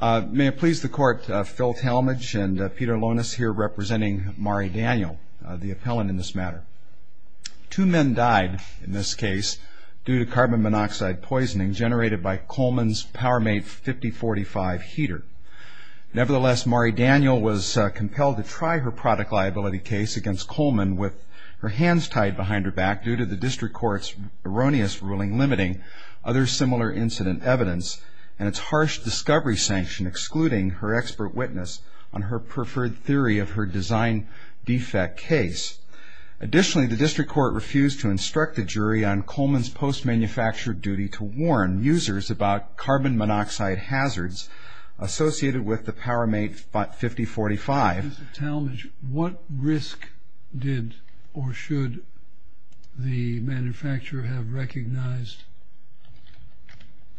May it please the Court, Phil Talmadge and Peter Lonas here representing Mari Daniel, the appellant in this matter. Two men died in this case due to carbon monoxide poisoning generated by Coleman's PowerMate 5045 heater. Nevertheless, Mari Daniel was compelled to try her product liability case against Coleman with her hands tied behind her back due to the District Court's erroneous ruling limiting other similar incident evidence and its harsh discovery sanction excluding her expert witness on her preferred theory of her design defect case. Additionally, the District Court refused to instruct the jury on Coleman's post-manufacturer duty to warn users about carbon monoxide hazards associated with the PowerMate 5045. Mr. Talmadge, what risk did or should the manufacturer have recognized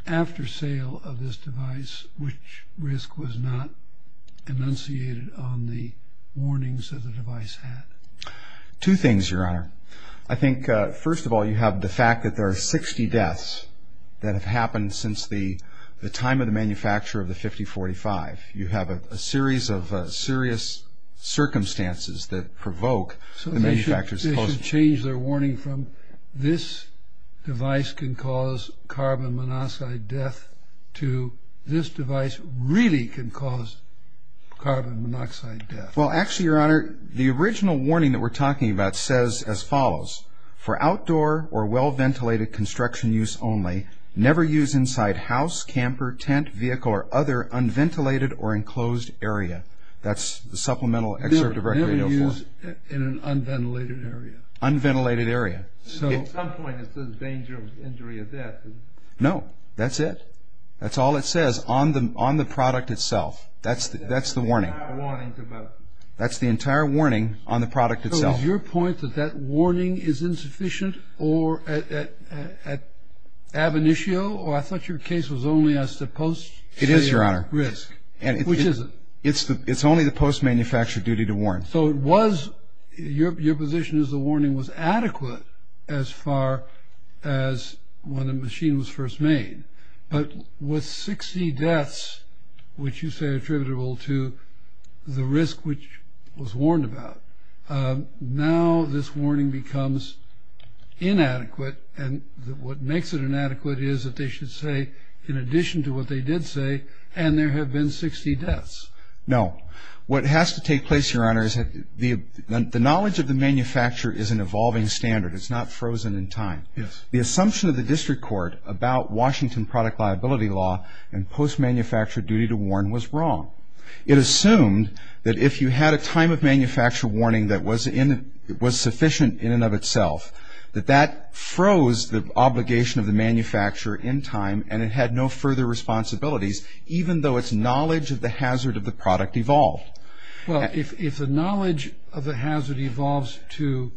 after sale of this device? Which risk was not enunciated on the warnings that the device had? Two things, Your Honor. I think, first of all, you have the fact that there are 60 deaths that have happened since the time of the manufacture of the 5045. You have a series of serious circumstances that provoke the manufacturer's position. So they should change their warning from this device can cause carbon monoxide death to this device really can cause carbon monoxide death. Well, actually, Your Honor, the original warning that we're talking about says as follows. For outdoor or well-ventilated construction use only, never use inside house, camper, tent, vehicle, or other unventilated or enclosed area. That's the supplemental excerpt of Article 804. Never use in an unventilated area. Unventilated area. At some point it says danger of injury or death. No, that's it. That's all it says on the product itself. That's the warning. That's the entire warning on the product itself. So is your point that that warning is insufficient or at ab initio, or I thought your case was only as to post-failure risk. It is, Your Honor. Which is it? It's only the post-manufacture duty to warn. So it was, your position is the warning was adequate as far as when the machine was first made. But with 60 deaths, which you say are attributable to the risk which was warned about, now this warning becomes inadequate, and what makes it inadequate is that they should say in addition to what they did say, and there have been 60 deaths. No. What has to take place, Your Honor, is that the knowledge of the manufacturer is an evolving standard. It's not frozen in time. Yes. The assumption of the district court about Washington product liability law and post-manufacture duty to warn was wrong. It assumed that if you had a time of manufacture warning that was sufficient in and of itself, that that froze the obligation of the manufacturer in time, and it had no further responsibilities, even though its knowledge of the hazard of the product evolved. Well, if the knowledge of the hazard evolves to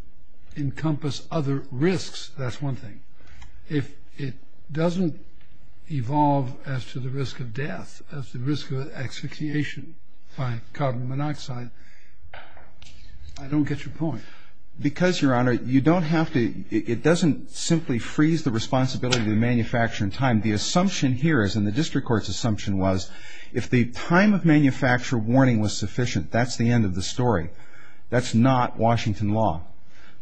encompass other risks, that's one thing. If it doesn't evolve as to the risk of death, as the risk of execution by carbon monoxide, I don't get your point. Because, Your Honor, you don't have to, it doesn't simply freeze the responsibility of the manufacturer in time. The assumption here is, and the district court's assumption was, if the time of manufacture warning was sufficient, that's the end of the story. That's not Washington law.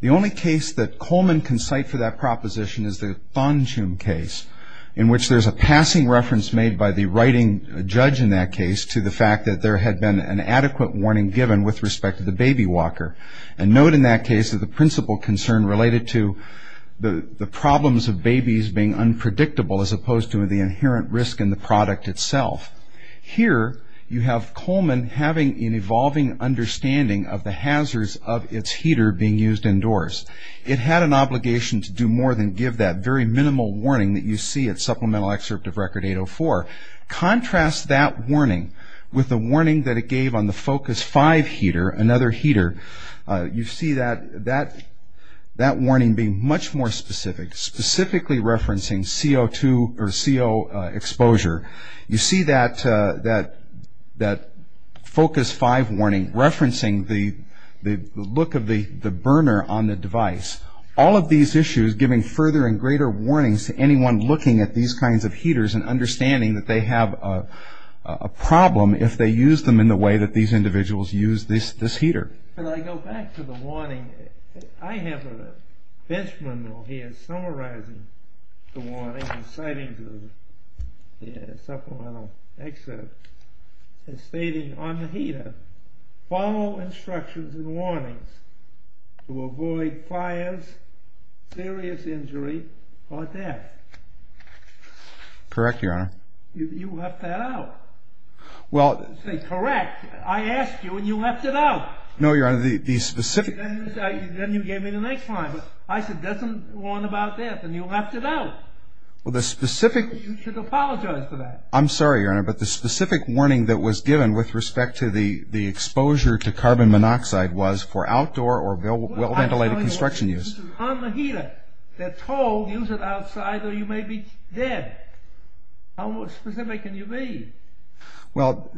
The only case that Coleman can cite for that proposition is the Thonjum case, in which there's a passing reference made by the writing judge in that case to the fact that there had been an adequate warning given with respect to the baby walker. And note in that case that the principal concern related to the problems of babies being unpredictable as opposed to the inherent risk in the product itself. Here, you have Coleman having an evolving understanding of the hazards of its heater being used indoors. It had an obligation to do more than give that very minimal warning that you see at Supplemental Excerpt of Record 804. Contrast that warning with the warning that it gave on the Focus 5 heater, another heater. You see that warning being much more specific, specifically referencing CO2 or CO exposure. You see that Focus 5 warning referencing the look of the burner on the device. All of these issues giving further and greater warnings to anyone looking at these kinds of heaters and understanding that they have a problem if they use them in the way that these individuals use this heater. Can I go back to the warning? I have a benchmark here summarizing the warning and citing the Supplemental Excerpt stating on the heater, follow instructions and warnings to avoid fires, serious injury, or death. Correct, Your Honor. You left that out. Well... I said, correct. I asked you and you left it out. No, Your Honor, the specific... Then you gave me the next line. I said, doesn't warn about death and you left it out. Well, the specific... You should apologize for that. I'm sorry, Your Honor, but the specific warning that was given with respect to the exposure to carbon monoxide was for outdoor or well-ventilated construction use. This is on the heater. They're told, use it outside or you may be dead. How specific can you be? Well,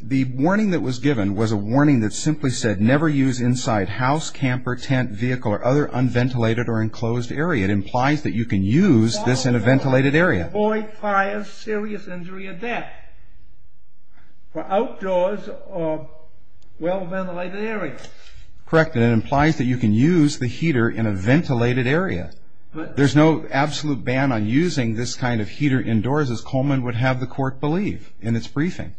the warning that was given was a warning that simply said, never use inside house, camper, tent, vehicle, or other unventilated or enclosed area. It implies that you can use this in a ventilated area. Avoid fires, serious injury, or death for outdoors or well-ventilated areas. Correct, and it implies that you can use the heater in a ventilated area. There's no absolute ban on using this kind of heater indoors as Coleman would have the court believe in its briefing.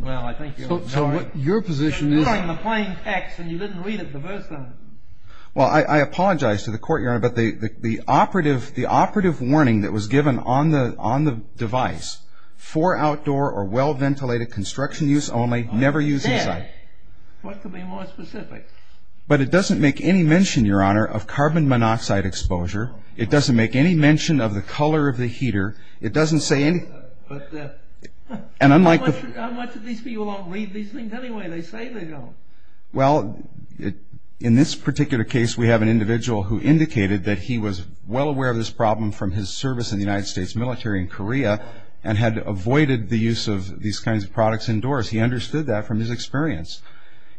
Well, I think... So, what your position is... You were on the plain text and you didn't read it the first time. Well, I apologize to the court, Your Honor, but the operative warning that was given on the device for outdoor or well-ventilated construction use only, never use inside. What could be more specific? But it doesn't make any mention, Your Honor, of carbon monoxide exposure. It doesn't make any mention of the color of the heater. It doesn't say any... How much of these people don't read these things anyway? They say they don't. Well, in this particular case, we have an individual who indicated that he was well aware of this problem from his service in the United States military in Korea and had avoided the use of these kinds of products indoors. He understood that from his experience.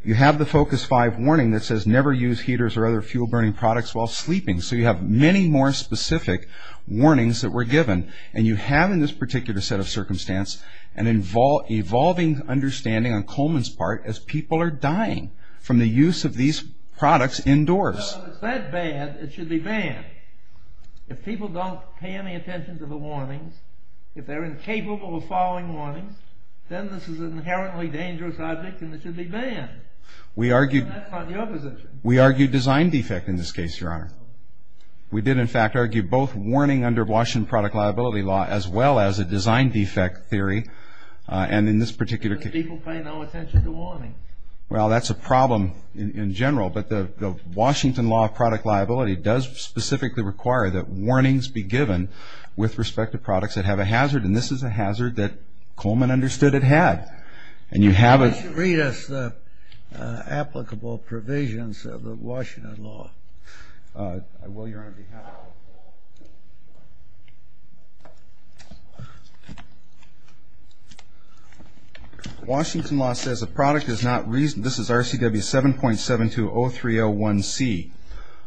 You have the Focus 5 warning that says never use heaters or other fuel-burning products while sleeping, so you have many more specific warnings that were given, and you have in this particular set of circumstance an evolving understanding on Coleman's part as people are dying from the use of these products indoors. Well, if it's that bad, it should be banned. If people don't pay any attention to the warnings, if they're incapable of following warnings, then this is an inherently dangerous object and it should be banned. That's not your position. We argue design defect in this case, Your Honor. We did, in fact, argue both warning under Washington product liability law as well as a design defect theory, and in this particular case... People pay no attention to warning. Well, that's a problem in general, but the Washington law of product liability does specifically require that warnings be given with respect to products that have a hazard, and this is a hazard that Coleman understood it had. And you have a... Read us the applicable provisions of the Washington law. I will, Your Honor. Washington law says a product is not reasonably... This is RCW 7.720301C.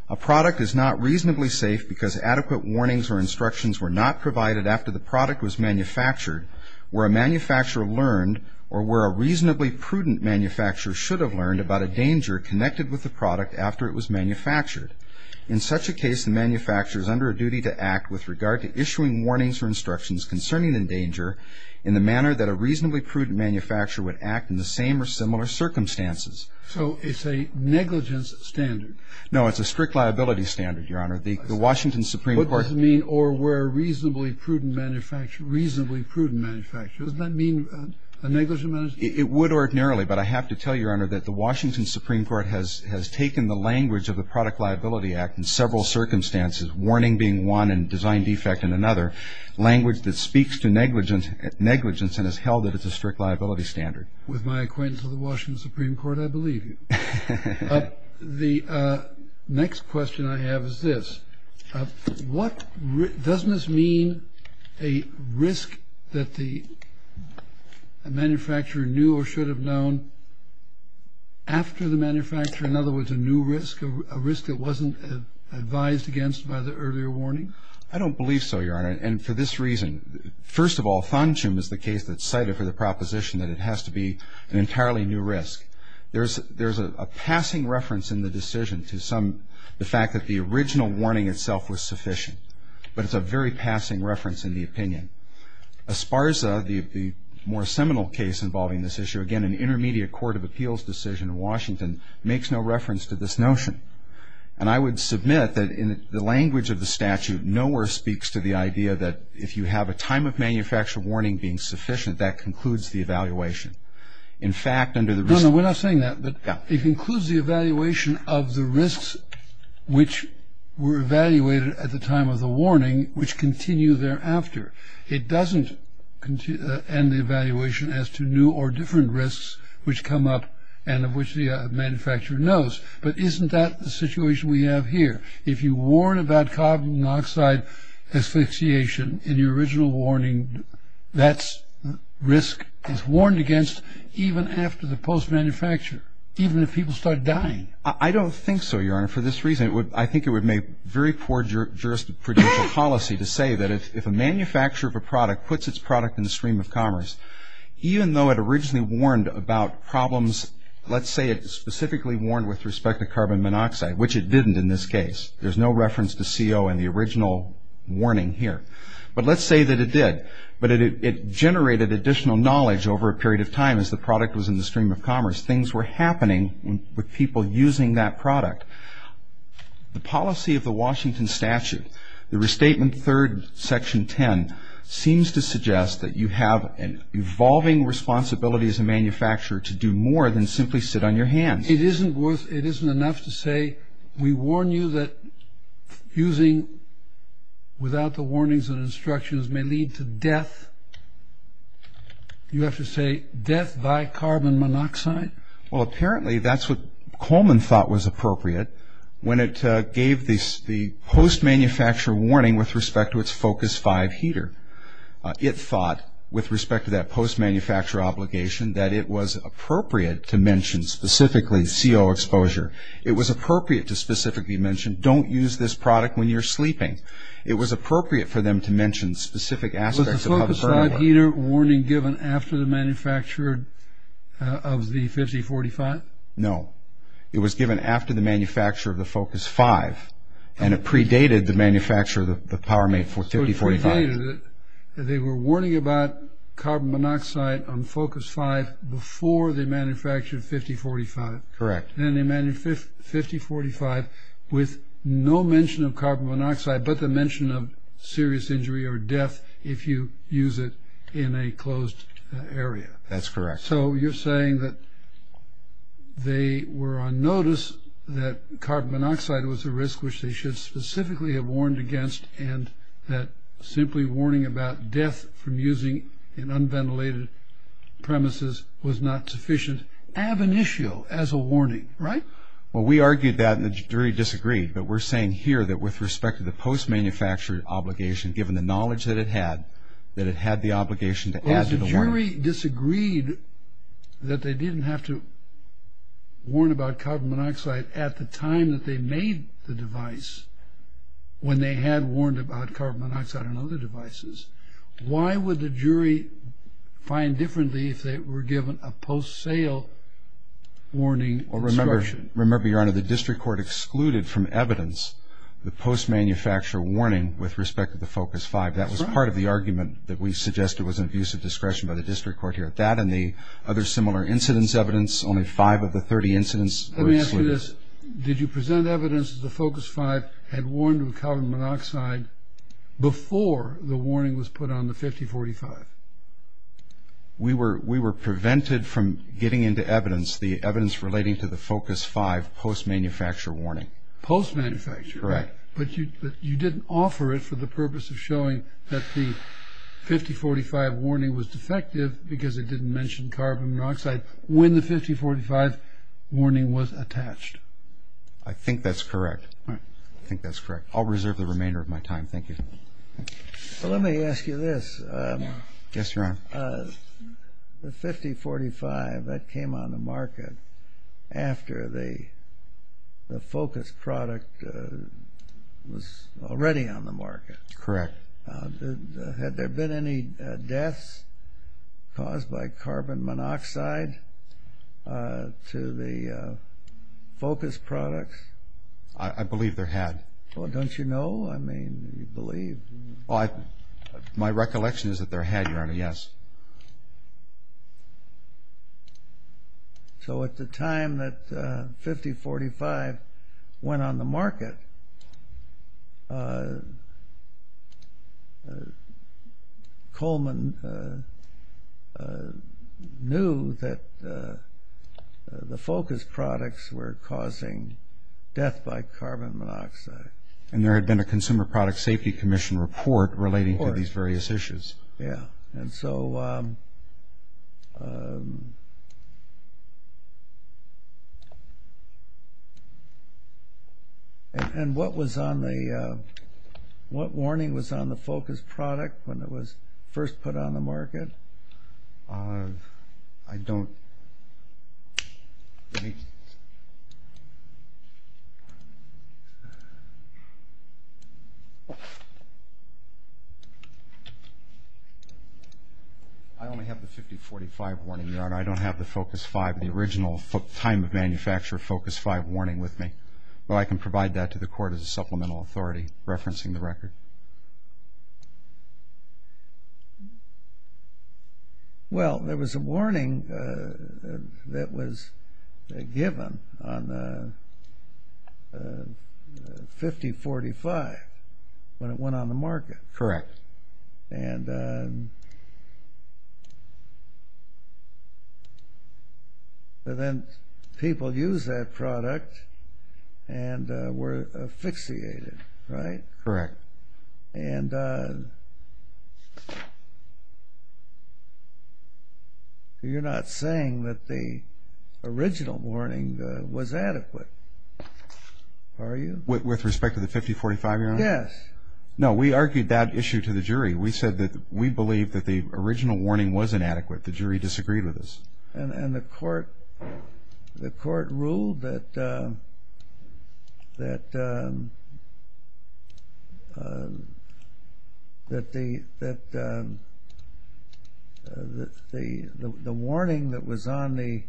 A product is not reasonably safe because adequate warnings or instructions were not provided after the product was manufactured where a manufacturer learned or where a reasonably prudent manufacturer should have learned about a danger connected with the product after it was manufactured. In such a case, the manufacturer is under a duty to act with regard to issuing warnings or instructions concerning the danger in the manner that a reasonably prudent manufacturer would act in the same or similar circumstances. So it's a negligence standard. No, it's a strict liability standard, Your Honor. The Washington Supreme Court... What does it mean, or where a reasonably prudent manufacturer... reasonably prudent manufacturer? Doesn't that mean a negligent manufacturer? It would ordinarily, but I have to tell you, Your Honor, that the Washington Supreme Court has taken the language of the Product Liability Act in several circumstances, warning being one and design defect in another, language that speaks to negligence and has held that it's a strict liability standard. With my acquaintance with the Washington Supreme Court, I believe you. The next question I have is this. Doesn't this mean a risk that the manufacturer knew or should have known after the manufacturer, in other words, a new risk, a risk that wasn't advised against by the earlier warning? I don't believe so, Your Honor, and for this reason. First of all, Fanchum is the case that's cited for the proposition that it has to be an entirely new risk. There's a passing reference in the decision to some... the fact that the original warning itself was sufficient, but it's a very passing reference in the opinion. Esparza, the more seminal case involving this issue, again, an intermediate court of appeals decision in Washington, makes no reference to this notion, and I would submit that in the language of the statute, nowhere speaks to the idea that if you have a time of manufacture warning being sufficient, that concludes the evaluation. No, no, we're not saying that, but it concludes the evaluation of the risks which were evaluated at the time of the warning, which continue thereafter. It doesn't end the evaluation as to new or different risks which come up and of which the manufacturer knows, but isn't that the situation we have here? If you warn about carbon monoxide asphyxiation in your original warning, that risk is warned against even after the post-manufacture, even if people start dying. I don't think so, Your Honor, for this reason. I think it would make very poor jurisprudential policy to say that if a manufacturer of a product puts its product in the stream of commerce, even though it originally warned about problems, let's say it specifically warned with respect to carbon monoxide, which it didn't in this case. There's no reference to CO in the original warning here. But let's say that it did, but it generated additional knowledge over a period of time as the product was in the stream of commerce. Things were happening with people using that product. The policy of the Washington Statute, the Restatement III, Section 10, seems to suggest that you have an evolving responsibility as a manufacturer to do more than simply sit on your hands. It isn't enough to say, we warn you that using without the warnings and instructions may lead to death. You have to say, death by carbon monoxide? Well, apparently that's what Coleman thought was appropriate when it gave the post-manufacture warning with respect to its Focus 5 heater. It thought, with respect to that post-manufacture obligation, that it was appropriate to mention specifically CO exposure. It was appropriate to specifically mention, don't use this product when you're sleeping. It was appropriate for them to mention specific aspects of... Was the Focus 5 heater warning given after the manufacture of the 5045? No. It was given after the manufacture of the Focus 5, and it predated the manufacture of the Powermate 5045. So it predated it. They were warning about carbon monoxide on Focus 5 before they manufactured 5045. Correct. And they manufactured 5045 with no mention of carbon monoxide, but the mention of serious injury or death if you use it in a closed area. That's correct. So you're saying that they were on notice that carbon monoxide was a risk which they should specifically have warned against, and that simply warning about death from using in unventilated premises was not sufficient ab initio as a warning, right? Well, we argued that, and the jury disagreed, but we're saying here that with respect to the post-manufacture obligation, given the knowledge that it had, that it had the obligation to add to the warning. Well, if the jury disagreed that they didn't have to warn about carbon monoxide at the time that they made the device when they had warned about carbon monoxide on other devices, why would the jury find differently if they were given a post-sale warning instruction? Well, remember, Your Honor, the district court excluded from evidence the post-manufacture warning with respect to the Focus 5. That was part of the argument that we suggested was an abuse of discretion by the district court here. That and the other similar incidence evidence, only five of the 30 incidents were excluded. Let me ask you this. Did you present evidence that the Focus 5 had warned of carbon monoxide before the warning was put on the 5045? We were prevented from getting into evidence, the evidence relating to the Focus 5 post-manufacture warning. Post-manufacture? Correct. But you didn't offer it for the purpose of showing that the 5045 warning was defective when the 5045 warning was attached. I think that's correct. All right. I think that's correct. I'll reserve the remainder of my time. Thank you. Well, let me ask you this. Yes, Your Honor. The 5045, that came on the market after the Focus product was already on the market. Correct. Had there been any deaths caused by carbon monoxide to the Focus products? I believe there had. Well, don't you know? I mean, do you believe? My recollection is that there had, Your Honor, yes. Coleman knew that the Focus products were causing death by carbon monoxide. And there had been a Consumer Product Safety Commission report relating to these various issues. Yeah. And so what warning was on the Focus product when it was first put on the market? I don't... I only have the 5045 warning, Your Honor. I don't have the Focus 5, the original time of manufacture of Focus 5 warning with me. But I can provide that to the Court as a supplemental authority referencing the record. Well, there was a warning that was given on the 5045 when it went on the market. Correct. And then people used that product and were asphyxiated, right? Correct. And you're not saying that the original warning was adequate, are you? With respect to the 5045, Your Honor? Yes. No, we argued that issue to the jury. We said that we believe that the original warning was inadequate. The jury disagreed with us. And the court ruled that the warning that was on the...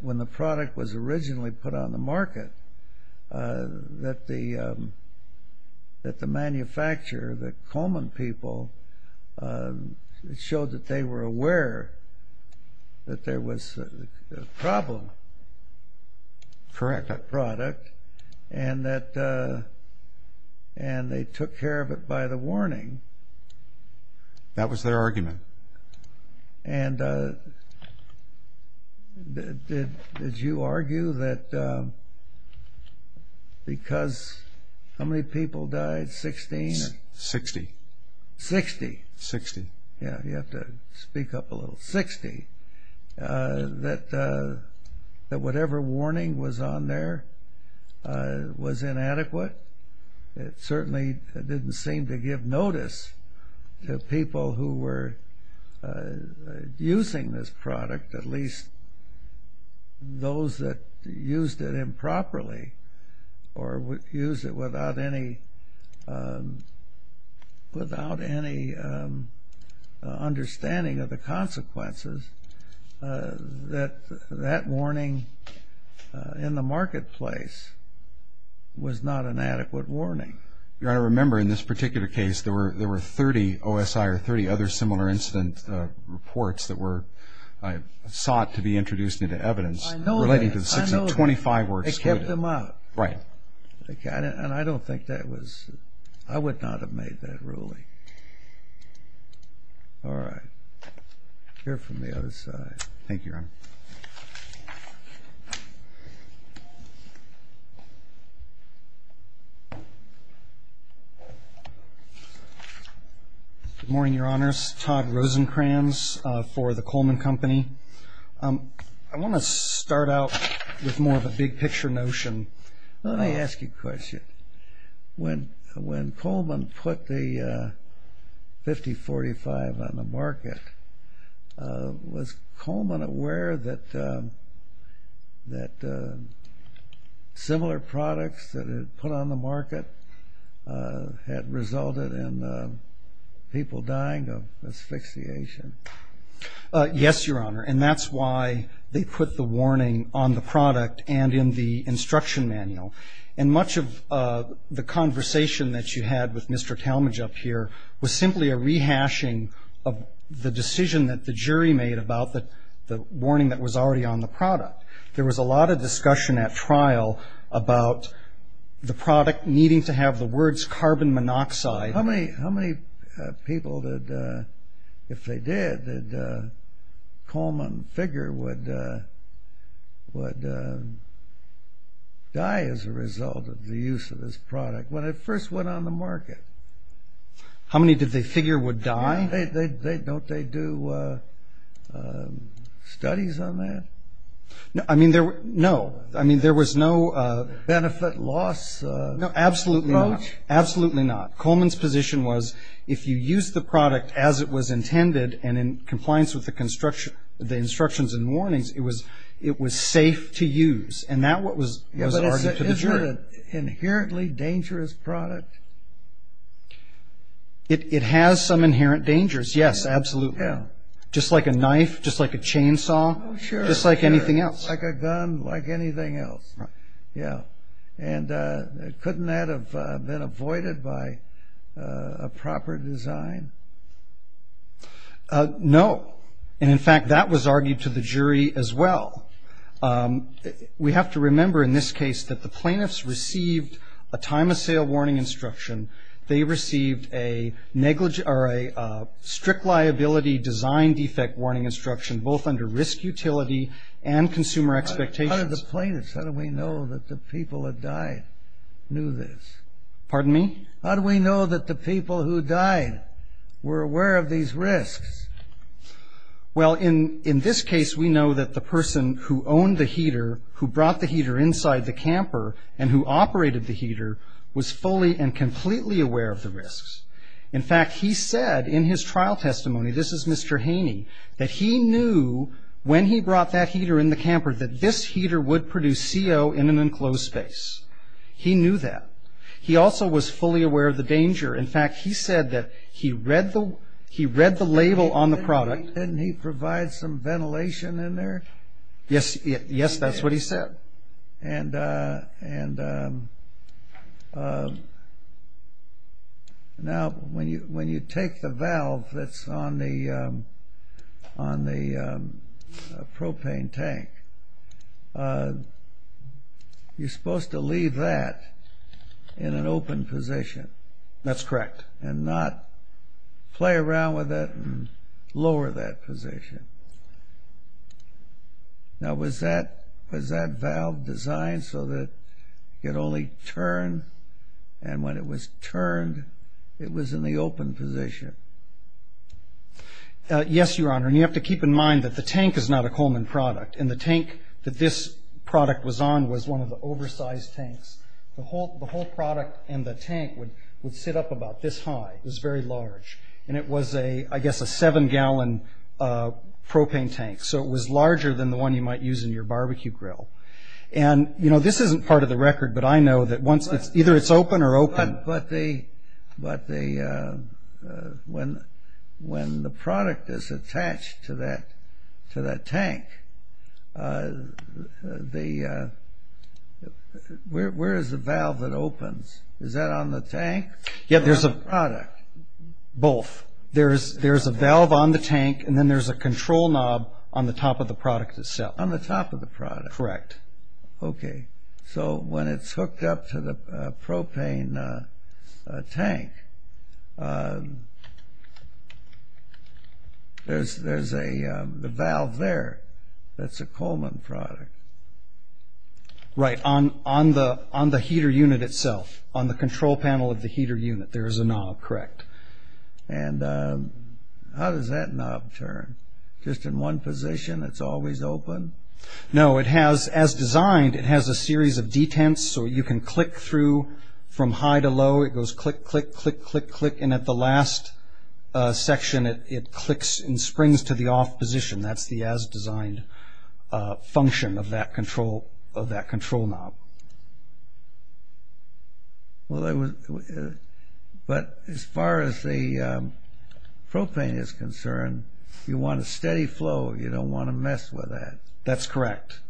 when the product was originally put on the market, that the manufacturer, the Coleman people, showed that they were aware that there was a problem. Correct. That product. And they took care of it by the warning. That was their argument. And did you argue that because how many people died? Sixteen? Sixty. Sixty. Sixty. Yeah, you have to speak up a little. Sixty. That whatever warning was on there was inadequate? It certainly didn't seem to give notice to people who were using this product, at least those that used it improperly or used it without any understanding of the consequences, that that warning in the marketplace was not an adequate warning. Your Honor, remember in this particular case there were 30 OSI or 30 other similar incident reports that were sought to be introduced into evidence. I know that. Relating to the 625 were excluded. They kept them out. Right. And I don't think that was... I would not have made that ruling. Okay. All right. Here from the other side. Thank you, Your Honor. Good morning, Your Honors. Todd Rosenkranz for the Coleman Company. I want to start out with more of a big picture notion. Let me ask you a question. When Coleman put the 5045 on the market, was Coleman aware that similar products that had been put on the market had resulted in people dying of asphyxiation? Yes, Your Honor, and that's why they put the warning on the product and in the instruction manual. And much of the conversation that you had with Mr. Talmadge up here was simply a rehashing of the decision that the jury made about the warning that was already on the product. There was a lot of discussion at trial about the product needing to have the words carbon monoxide. How many people, if they did, did Coleman figure would die as a result of the use of this product when it first went on the market? How many did they figure would die? Don't they do studies on that? No. Absolutely not. Absolutely not. Coleman's position was if you use the product as it was intended and in compliance with the instructions and warnings, it was safe to use. And that was what was argued to the jury. Isn't it an inherently dangerous product? It has some inherent dangers, yes, absolutely. Just like a knife, just like a chainsaw, just like anything else. Like a gun, like anything else. Yeah. And couldn't that have been avoided by a proper design? No. And, in fact, that was argued to the jury as well. We have to remember in this case that the plaintiffs received a time-of-sale warning instruction. They received a strict liability design defect warning instruction, both under risk utility and consumer expectations. How did the plaintiffs, how do we know that the people that died knew this? Pardon me? How do we know that the people who died were aware of these risks? Well, in this case, we know that the person who owned the heater, who brought the heater inside the camper and who operated the heater, was fully and completely aware of the risks. In fact, he said in his trial testimony, this is Mr. Haney, that he knew when he brought that heater in the camper that this heater would produce CO in an enclosed space. He knew that. He also was fully aware of the danger. In fact, he said that he read the label on the product. Didn't he provide some ventilation in there? Yes, that's what he said. And now when you take the valve that's on the propane tank, you're supposed to leave that in an open position. That's correct. And not play around with it and lower that position. Now was that valve designed so that it only turned and when it was turned it was in the open position? Yes, Your Honor. And you have to keep in mind that the tank is not a Coleman product and the tank that this product was on was one of the oversized tanks. The whole product and the tank would sit up about this high. It was very large. And it was, I guess, a seven-gallon propane tank. So it was larger than the one you might use in your barbecue grill. And this isn't part of the record, but I know that either it's open or open. But when the product is attached to that tank, where is the valve that opens? Is that on the tank or on the product? Both. There's a valve on the tank, and then there's a control knob on the top of the product itself. On the top of the product. Correct. Okay. So when it's hooked up to the propane tank, there's a valve there that's a Coleman product. Right. On the heater unit itself, on the control panel of the heater unit, there is a knob. Correct. And how does that knob turn? Just in one position, it's always open? No, it has, as designed, it has a series of detents, so you can click through from high to low. It goes click, click, click, click, click. And at the last section, it clicks and springs to the off position. That's the as designed function of that control knob. But as far as the propane is concerned, you want a steady flow, you don't want to mess with that. That's correct.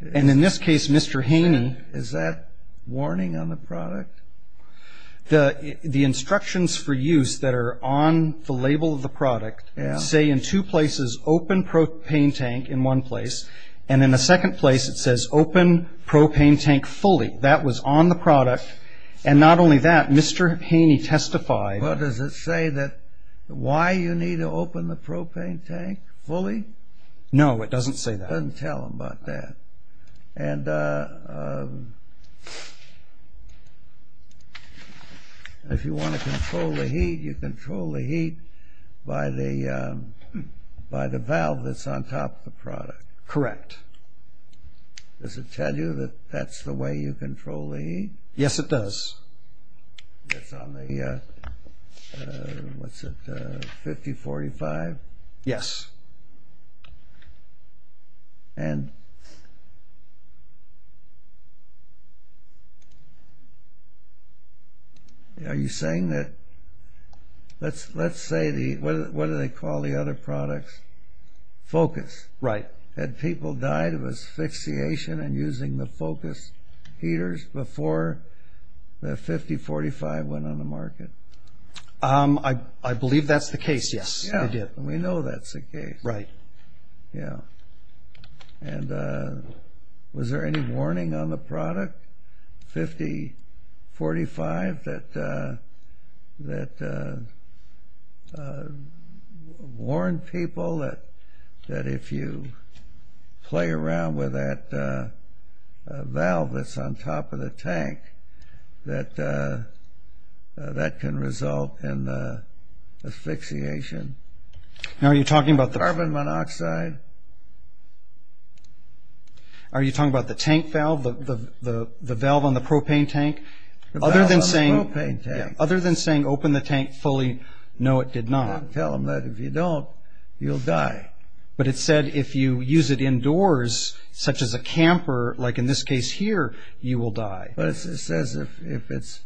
And in this case, Mr. Haney. Is that warning on the product? The instructions for use that are on the label of the product say in two places, open propane tank in one place, and in the second place it says open propane tank fully. That was on the product. And not only that, Mr. Haney testified. Well, does it say why you need to open the propane tank fully? No, it doesn't say that. It doesn't tell him about that. And if you want to control the heat, you control the heat by the valve that's on top of the product. Correct. Does it tell you that that's the way you control the heat? Yes, it does. It's on the, what's it, 50-45? Yes. And are you saying that, let's say the, what do they call the other products? Focus. Right. Had people died of asphyxiation in using the focus heaters before the 50-45 went on the market? I believe that's the case, yes. We know that's the case. Right. Yeah. And was there any warning on the product, 50-45, that warned people that if you play around with that valve that's on top of the tank, that that can result in asphyxiation? Now, are you talking about the... Carbon monoxide? Are you talking about the tank valve, the valve on the propane tank? The valve on the propane tank. Other than saying open the tank fully, no, it did not. Don't tell them that. If you don't, you'll die. But it said if you use it indoors, such as a camper, like in this case here, you will die. But it says if it's,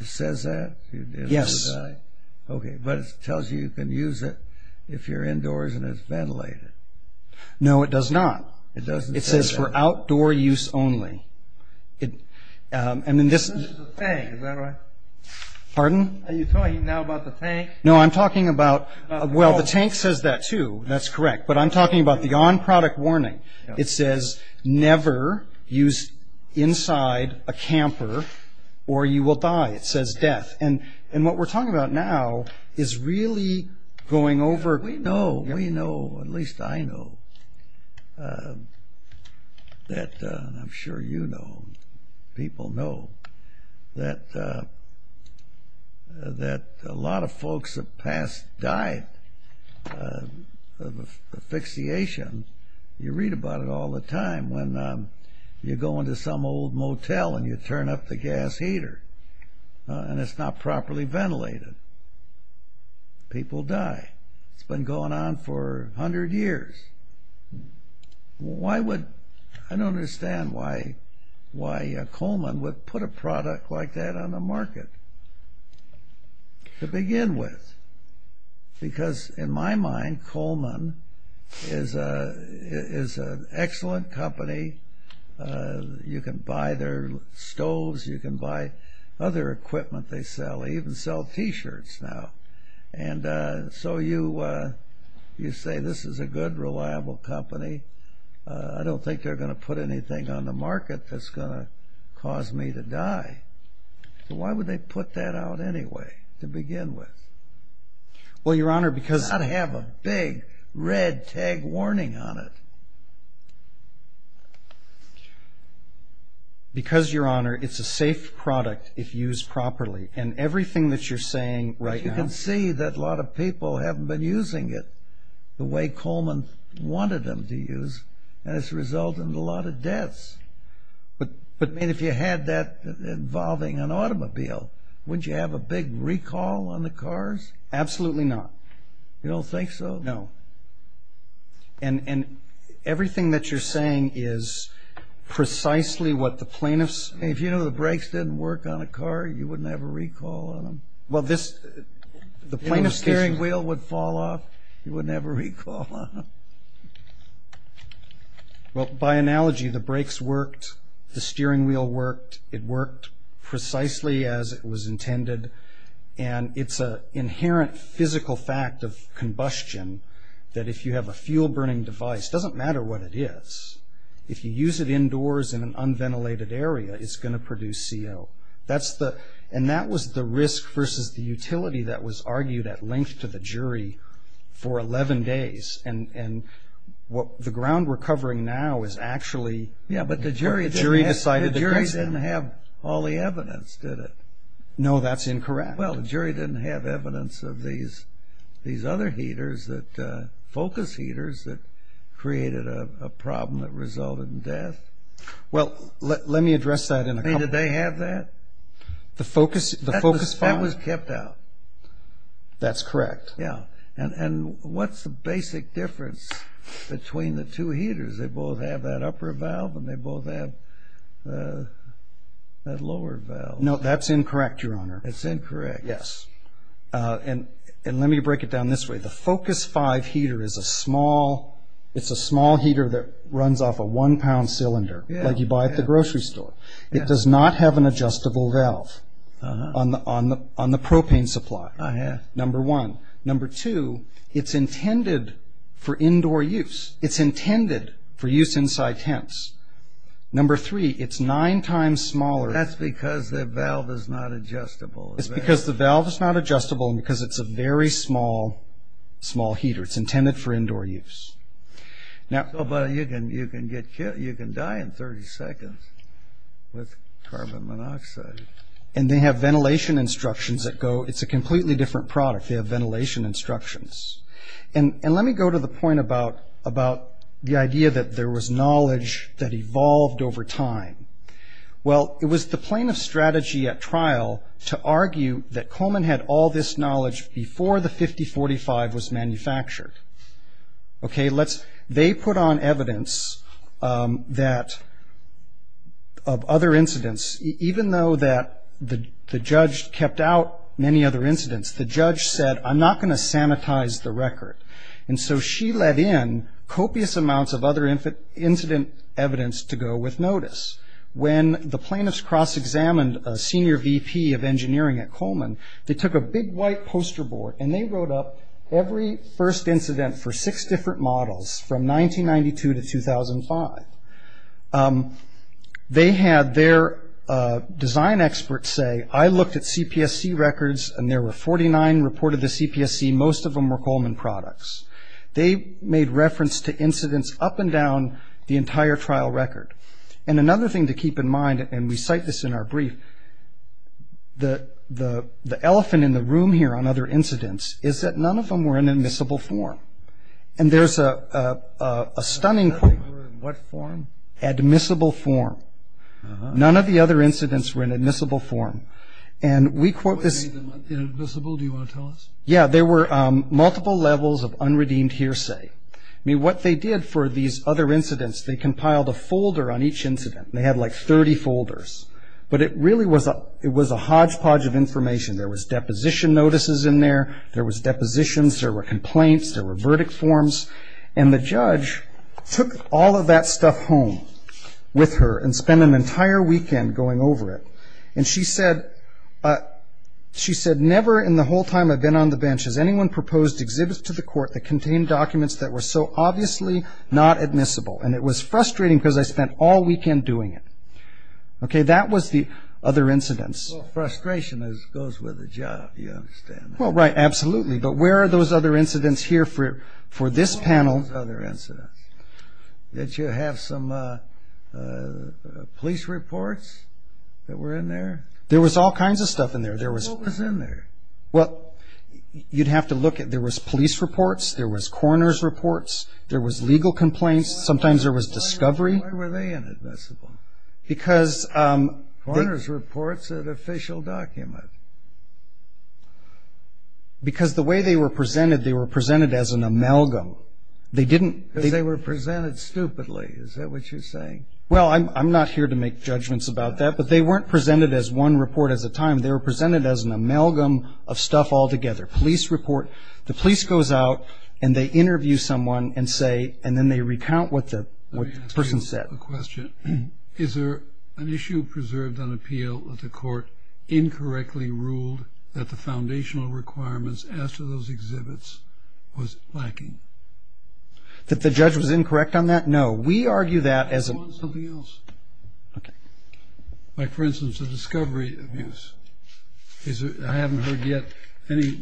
it says that, you will die. Yes. Okay, but it tells you you can use it if you're indoors and it's ventilated. No, it does not. It doesn't say that. It says for outdoor use only. And then this... This is the tank, is that right? Are you talking now about the tank? No, I'm talking about... About the valve. The tank says that, too. That's correct. But I'm talking about the on-product warning. It says never use inside a camper or you will die. It says death. And what we're talking about now is really going over... We know, we know, at least I know, that I'm sure you know, people know, that a lot of folks have passed died of asphyxiation. You read about it all the time when you go into some old motel and you turn up the gas heater and it's not properly ventilated. People die. It's been going on for a hundred years. Why would... I don't understand why Coleman would put a product like that on the market to begin with. Because in my mind, Coleman is an excellent company. You can buy their stoves. You can buy other equipment they sell. They even sell T-shirts now. And so you say this is a good, reliable company. I don't think they're going to put anything on the market that's going to cause me to die. So why would they put that out anyway to begin with? Well, Your Honor, because... It's got to have a big red tag warning on it. Because, Your Honor, it's a safe product if used properly. And everything that you're saying right now... We see that a lot of people haven't been using it the way Coleman wanted them to use, and it's resulted in a lot of deaths. But if you had that involving an automobile, wouldn't you have a big recall on the cars? Absolutely not. You don't think so? No. And everything that you're saying is precisely what the plaintiffs... If you know the brakes didn't work on a car, you wouldn't have a recall on them. The plaintiff's steering wheel would fall off. You wouldn't have a recall on them. Well, by analogy, the brakes worked, the steering wheel worked. It worked precisely as it was intended. And it's an inherent physical fact of combustion that if you have a fuel-burning device, it doesn't matter what it is. If you use it indoors in an unventilated area, it's going to produce CO. And that was the risk versus the utility that was argued at length to the jury for 11 days. And the ground we're covering now is actually... Yeah, but the jury didn't have all the evidence, did it? No, that's incorrect. Well, the jury didn't have evidence of these other heaters, focus heaters, that created a problem that resulted in death. Well, let me address that in a couple... I mean, did they have that? The Focus 5. That was kept out. That's correct. Yeah. And what's the basic difference between the two heaters? They both have that upper valve and they both have that lower valve. No, that's incorrect, Your Honor. It's incorrect. Yes. And let me break it down this way. The Focus 5 heater is a small heater that runs off a one-pound cylinder, like you buy at the grocery store. It does not have an adjustable valve on the propane supply, number one. Number two, it's intended for indoor use. It's intended for use inside tents. Number three, it's nine times smaller. That's because the valve is not adjustable. It's because the valve is not adjustable and because it's a very small heater. It's intended for indoor use. But you can die in 30 seconds with carbon monoxide. And they have ventilation instructions that go. It's a completely different product. They have ventilation instructions. And let me go to the point about the idea that there was knowledge that evolved over time. Well, it was the plane of strategy at trial to argue that Coleman had all this knowledge before the 5045 was manufactured. They put on evidence of other incidents. Even though the judge kept out many other incidents, the judge said, I'm not going to sanitize the record. And so she let in copious amounts of other incident evidence to go with notice. When the plaintiffs cross-examined a senior VP of engineering at Coleman, they took a big white poster board, and they wrote up every first incident for six different models from 1992 to 2005. They had their design experts say, I looked at CPSC records, and there were 49 reported to CPSC. Most of them were Coleman products. They made reference to incidents up and down the entire trial record. And another thing to keep in mind, and we cite this in our brief, the elephant in the room here on other incidents is that none of them were in admissible form. And there's a stunning point. They were in what form? Admissible form. None of the other incidents were in admissible form. And we quote this. Inadmissible? Do you want to tell us? Yeah, there were multiple levels of unredeemed hearsay. I mean, what they did for these other incidents, they compiled a folder on each incident. They had like 30 folders. But it really was a hodgepodge of information. There was deposition notices in there. There was depositions. There were complaints. There were verdict forms. And the judge took all of that stuff home with her and spent an entire weekend going over it. And she said, never in the whole time I've been on the bench has anyone proposed exhibits to the court that contain documents that were so obviously not admissible. And it was frustrating because I spent all weekend doing it. Okay, that was the other incidents. Well, frustration goes with the job, you understand. Well, right, absolutely. But where are those other incidents here for this panel? What were those other incidents? Did you have some police reports that were in there? There was all kinds of stuff in there. What was in there? Well, you'd have to look at it. There was police reports. There was coroner's reports. There was legal complaints. Sometimes there was discovery. Why were they inadmissible? Coroner's reports are the official document. Because the way they were presented, they were presented as an amalgam. Because they were presented stupidly. Is that what you're saying? Well, I'm not here to make judgments about that. But they weren't presented as one report at a time. They were presented as an amalgam of stuff altogether. Police report. The police goes out and they interview someone and say and then they recount what the person said. Let me ask you a question. Is there an issue preserved on appeal that the court incorrectly ruled that the foundational requirements as to those exhibits was lacking? That the judge was incorrect on that? No. We argue that as a... I want something else. Okay. Like, for instance, the discovery abuse. I haven't heard yet any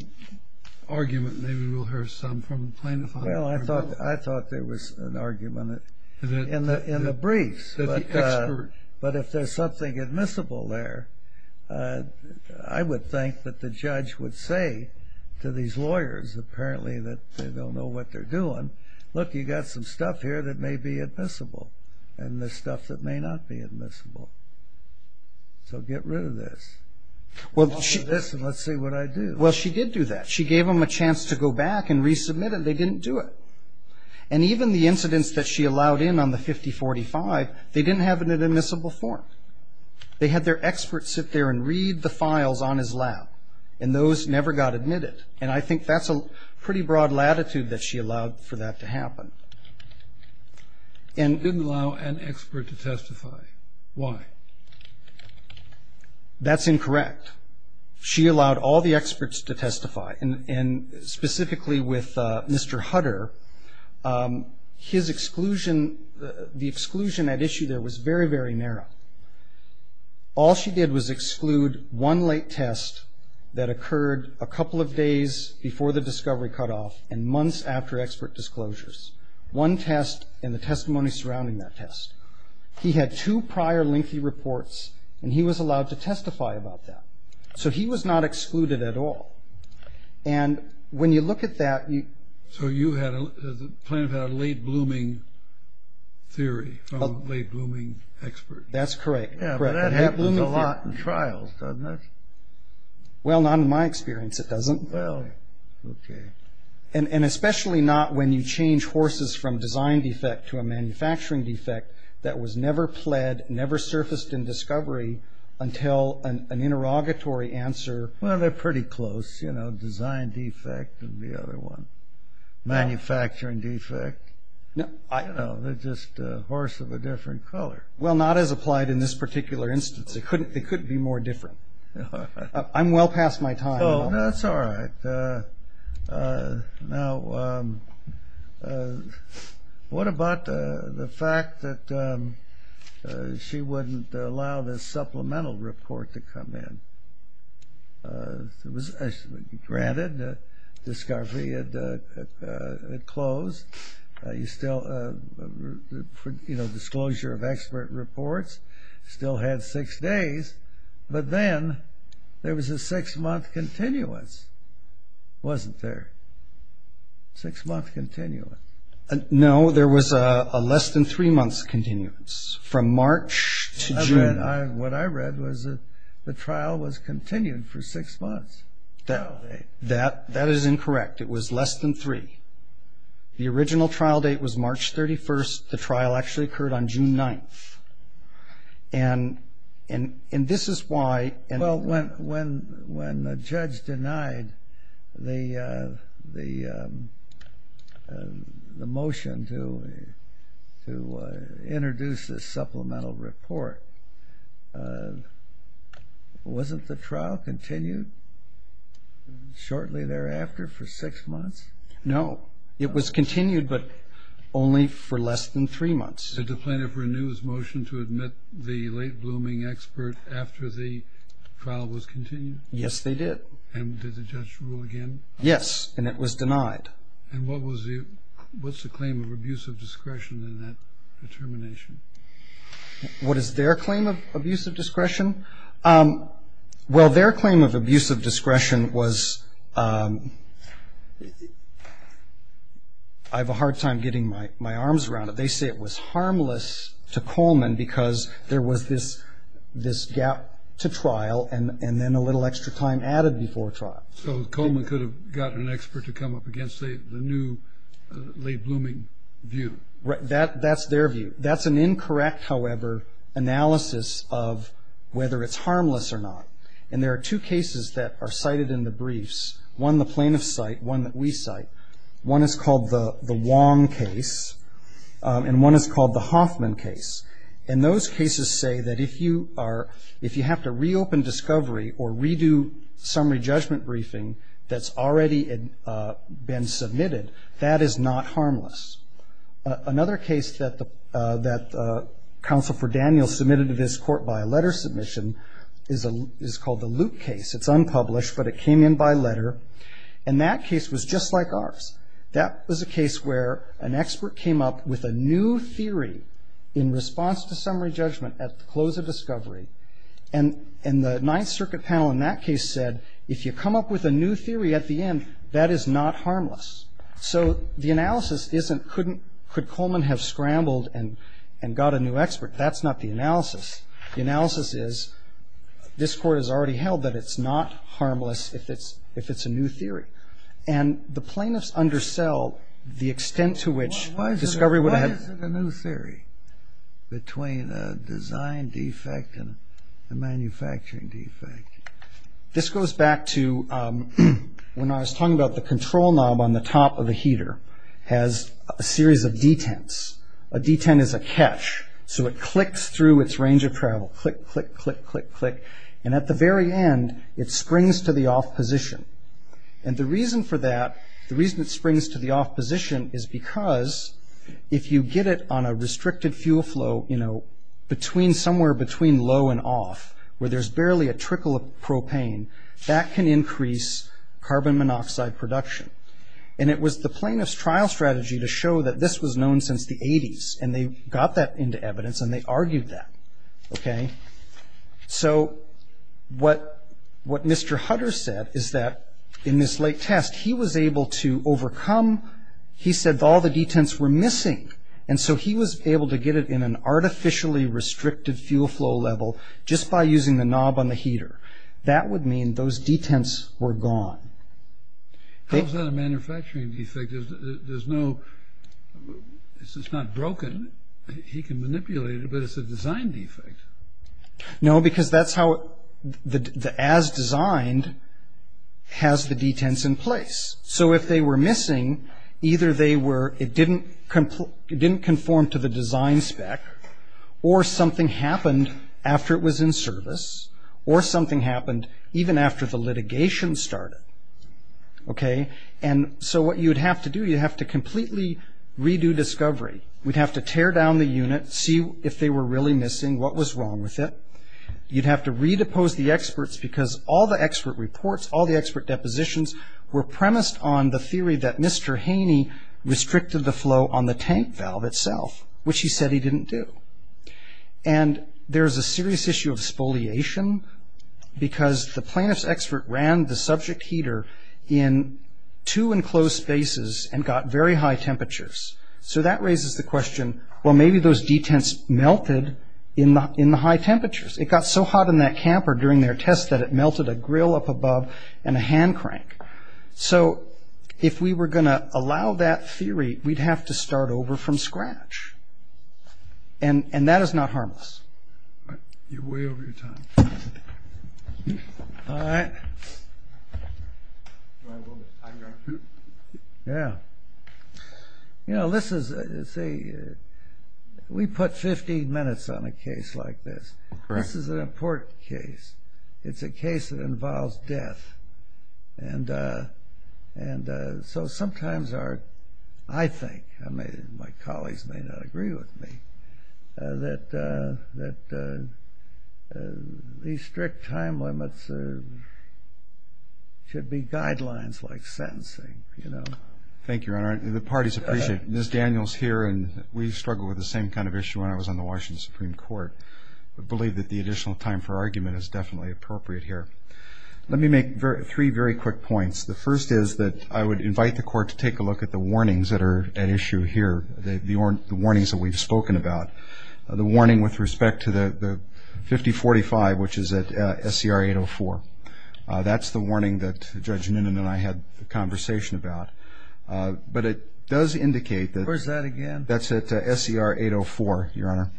argument. Maybe we'll hear some from plaintiffs. Well, I thought there was an argument in the briefs. But if there's something admissible there, I would think that the judge would say to these lawyers, apparently that they don't know what they're doing, look, you've got some stuff here that may be admissible and there's stuff that may not be admissible. So get rid of this. Listen, let's see what I do. Well, she did do that. She gave them a chance to go back and resubmit it. They didn't do it. And even the incidents that she allowed in on the 5045, they didn't have it in admissible form. They had their experts sit there and read the files on his lab, and those never got admitted. And I think that's a pretty broad latitude that she allowed for that to happen. She didn't allow an expert to testify. Why? That's incorrect. She allowed all the experts to testify. And specifically with Mr. Hutter, his exclusion, the exclusion at issue there was very, very narrow. All she did was exclude one late test that occurred a couple of days before the disclosures, one test and the testimony surrounding that test. He had two prior lengthy reports, and he was allowed to testify about that. So he was not excluded at all. And when you look at that, you – So you had a late-blooming theory from late-blooming experts. That's correct. Yeah, but that happens a lot in trials, doesn't it? Well, not in my experience it doesn't. Well, okay. And especially not when you change horses from design defect to a manufacturing defect that was never pled, never surfaced in discovery until an interrogatory answer. Well, they're pretty close, you know, design defect and the other one. Manufacturing defect, you know, they're just a horse of a different color. Well, not as applied in this particular instance. It couldn't be more different. I'm well past my time. No, that's all right. Now, what about the fact that she wouldn't allow this supplemental report to come in? Granted, the discovery had closed. You still, you know, disclosure of expert reports still had six days. But then there was a six-month continuance, wasn't there? Six-month continuance. No, there was a less-than-three-months continuance from March to June. What I read was the trial was continued for six months. That is incorrect. It was less than three. The original trial date was March 31st. The trial actually occurred on June 9th. And this is why. Well, when the judge denied the motion to introduce this supplemental report, wasn't the trial continued shortly thereafter for six months? No. It was continued but only for less than three months. Did the plaintiff renew his motion to admit the late-blooming expert after the trial was continued? Yes, they did. And did the judge rule again? Yes, and it was denied. And what was the claim of abuse of discretion in that determination? What is their claim of abuse of discretion? Well, their claim of abuse of discretion was I have a hard time getting my arms around it. They say it was harmless to Coleman because there was this gap to trial and then a little extra time added before trial. So Coleman could have gotten an expert to come up against the new late-blooming view? That's their view. That's an incorrect, however, analysis of whether it's harmless or not. And there are two cases that are cited in the briefs, one the plaintiff's cite, one that we cite. One is called the Wong case and one is called the Hoffman case. And those cases say that if you have to reopen discovery or redo summary judgment briefing that's already been submitted, that is not harmless. Another case that Counsel for Daniel submitted to this court by a letter submission is called the Luke case. It's unpublished, but it came in by letter. And that case was just like ours. That was a case where an expert came up with a new theory in response to summary judgment at the close of discovery. And the Ninth Circuit panel in that case said if you come up with a new theory at the end, that is not harmless. So the analysis isn't could Coleman have scrambled and got a new expert. That's not the analysis. The analysis is this court has already held that it's not harmless if it's a new theory. And the plaintiffs undersell the extent to which discovery would have. Why is it a new theory between a design defect and a manufacturing defect? This goes back to when I was talking about the control knob on the top of the heater has a series of detents. A detent is a catch. So it clicks through its range of travel. Click, click, click, click, click. And at the very end, it springs to the off position. And the reason for that, the reason it springs to the off position is because if you get it on a restricted fuel flow, you know, somewhere between low and off where there's barely a trickle of propane, that can increase carbon monoxide production. And it was the plaintiff's trial strategy to show that this was known since the 80s. And they got that into evidence and they argued that. Okay? So what Mr. Hutter said is that in this late test, he was able to overcome. He said all the detents were missing. And so he was able to get it in an artificially restricted fuel flow level just by using the knob on the heater. That would mean those detents were gone. How is that a manufacturing defect? There's no – it's not broken. He can manipulate it, but it's a design defect. No, because that's how – as designed has the detents in place. So if they were missing, either they were – it didn't conform to the design spec or something happened after it was in service or something happened even after the litigation started. Okay? And so what you'd have to do, you'd have to completely redo discovery. We'd have to tear down the unit, see if they were really missing, what was wrong with it. You'd have to redepose the experts because all the expert reports, all the expert depositions were premised on the theory that Mr. Haney restricted the flow on the tank valve itself, which he said he didn't do. And there's a serious issue of spoliation because the plaintiff's expert ran the subject heater in two enclosed spaces and got very high temperatures. So that raises the question, well, maybe those detents melted in the high temperatures. It got so hot in that camper during their test that it melted a grill up above and a hand crank. So if we were going to allow that theory, we'd have to start over from scratch. And that is not harmless. You're way over your time. All right. You know, this is a – we put 15 minutes on a case like this. This is an important case. It's a case that involves death. And so sometimes our – I think, my colleagues may not agree with me, that these strict time limits should be guidelines like sentencing, you know. Thank you, Your Honor. The parties appreciate it. Ms. Daniels here, and we struggled with the same kind of issue when I was on the Washington Supreme Court, but I believe that the additional time for argument is definitely appropriate here. Let me make three very quick points. The first is that I would invite the Court to take a look at the warnings that are at issue here, the warnings that we've spoken about. The warning with respect to the 5045, which is at SCR 804, that's the warning that Judge Noonan and I had a conversation about. But it does indicate that – Where's that again? That's at SCR 804, Your Honor.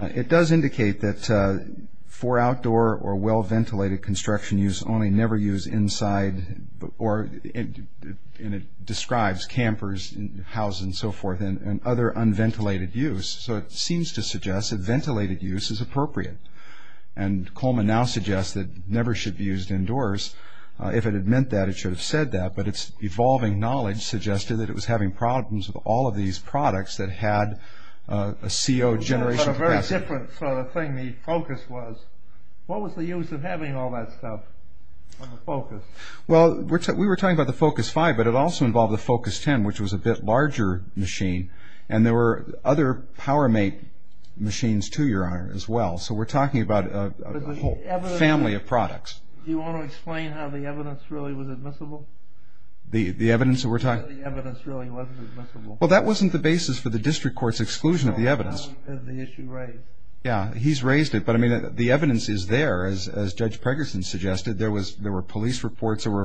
It does indicate that for outdoor or well-ventilated construction use, only never use inside or – and it describes campers, houses, and so forth, and other unventilated use. So it seems to suggest that ventilated use is appropriate. And Coleman now suggests that it never should be used indoors. If it had meant that, it should have said that, but its evolving knowledge suggested that it was having problems with all of these products that had a CO generation capacity. But a very different sort of thing the focus was. What was the use of having all that stuff on the focus? Well, we were talking about the Focus 5, but it also involved the Focus 10, which was a bit larger machine, and there were other PowerMate machines, too, Your Honor, as well. So we're talking about a whole family of products. Do you want to explain how the evidence really was admissible? The evidence that we're talking about? The evidence really wasn't admissible. Well, that wasn't the basis for the district court's exclusion of the evidence. Well, how is the issue raised? Yeah, he's raised it, but, I mean, the evidence is there. As Judge Pregerson suggested, there were police reports that were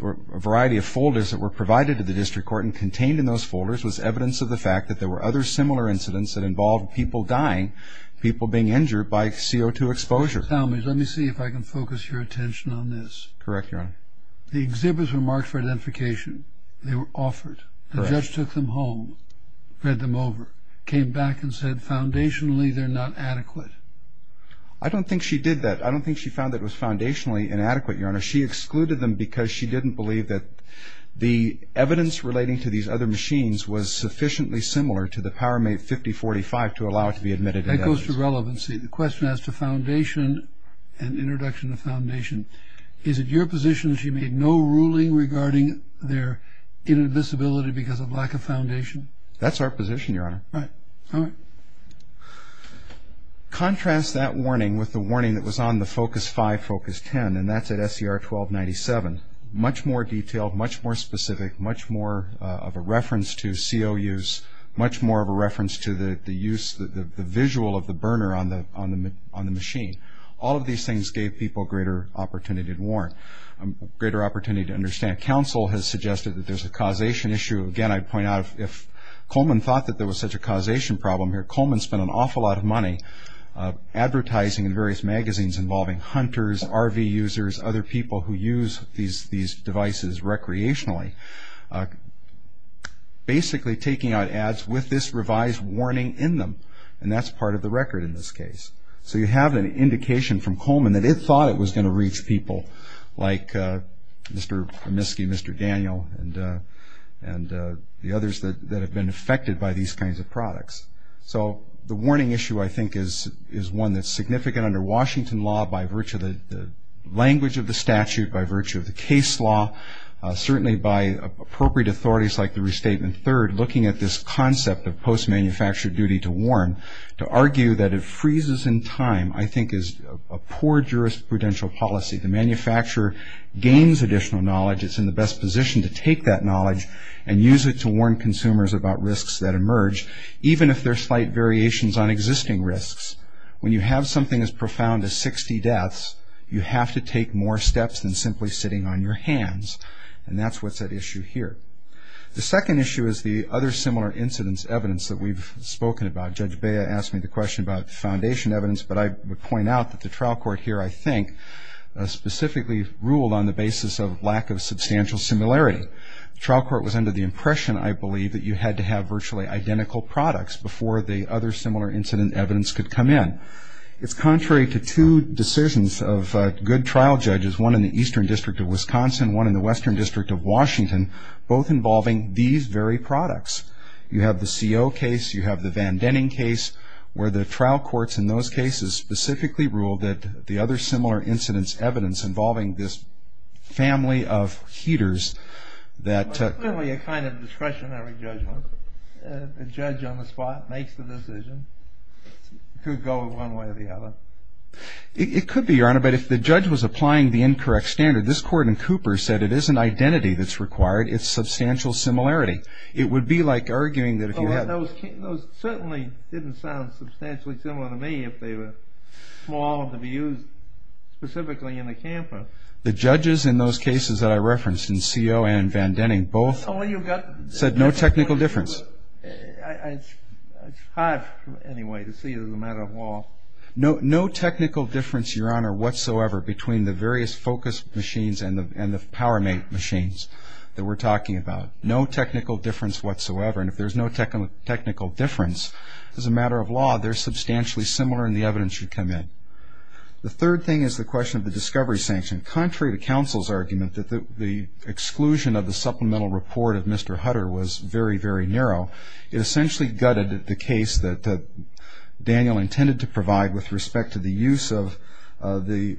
a variety of folders that were provided to the district court, and contained in those folders was evidence of the fact that there were other similar incidents that involved people dying, people being injured by CO2 exposure. Let me see if I can focus your attention on this. Correct, Your Honor. The exhibits were marked for identification. They were offered. The judge took them home, read them over, came back and said, foundationally, they're not adequate. I don't think she did that. I don't think she found that it was foundationally inadequate, Your Honor. She excluded them because she didn't believe that the evidence relating to these other machines was sufficiently similar to the PowerMate 5045 to allow it to be admitted as evidence. That goes to relevancy. The question as to foundation and introduction of foundation, is it your position that she made no ruling regarding their inadmissibility because of lack of foundation? That's our position, Your Honor. All right. Contrast that warning with the warning that was on the Focus 5, Focus 10, and that's at SCR 1297. Much more detailed, much more specific, much more of a reference to CO use, much more of a reference to the use, the visual of the burner on the machine. All of these things gave people greater opportunity to warn, greater opportunity to understand. Counsel has suggested that there's a causation issue. Again, I'd point out if Coleman thought that there was such a causation problem here, Coleman spent an awful lot of money advertising in various magazines involving hunters, RV users, other people who use these devices recreationally. Basically taking out ads with this revised warning in them, and that's part of the record in this case. So you have an indication from Coleman that it thought it was going to reach people like Mr. Miske, Mr. Daniel, and the others that have been affected by these kinds of products. So the warning issue, I think, is one that's significant under Washington law by virtue of the language of the statute, by virtue of the case law, certainly by appropriate authorities like the restatement third, looking at this concept of post-manufactured duty to warn, to argue that it freezes in time I think is a poor jurisprudential policy. The manufacturer gains additional knowledge. It's in the best position to take that knowledge and use it to warn consumers about risks that emerge, even if they're slight variations on existing risks. When you have something as profound as 60 deaths, you have to take more steps than simply sitting on your hands, and that's what's at issue here. The second issue is the other similar incidents evidence that we've spoken about. Judge Bea asked me the question about foundation evidence, but I would point out that the trial court here, I think, specifically ruled on the basis of lack of substantial similarity. The trial court was under the impression, I believe, that you had to have virtually identical products before the other similar incident evidence could come in. It's contrary to two decisions of good trial judges, one in the Eastern District of Wisconsin, one in the Western District of Washington, both involving these very products. You have the CO case, you have the Van Denning case, where the trial courts in those cases specifically ruled that the other similar incidents evidence involving this family of heaters was really a kind of discretionary judgment. The judge on the spot makes the decision. It could go one way or the other. It could be, Your Honor, but if the judge was applying the incorrect standard, this court in Cooper said it isn't identity that's required, it's substantial similarity. It would be like arguing that if you had... Those certainly didn't sound substantially similar to me, if they were small to be used specifically in a camper. The judges in those cases that I referenced in CO and Van Denning both said no technical difference. It's hard, anyway, to see as a matter of law. No technical difference, Your Honor, whatsoever, between the various focus machines and the PowerMate machines that we're talking about. No technical difference whatsoever, and if there's no technical difference, as a matter of law, they're substantially similar and the evidence should come in. The third thing is the question of the discovery sanction. Contrary to counsel's argument that the exclusion of the supplemental report of Mr. Hutter was very, very narrow, it essentially gutted the case that Daniel intended to provide with respect to the use of the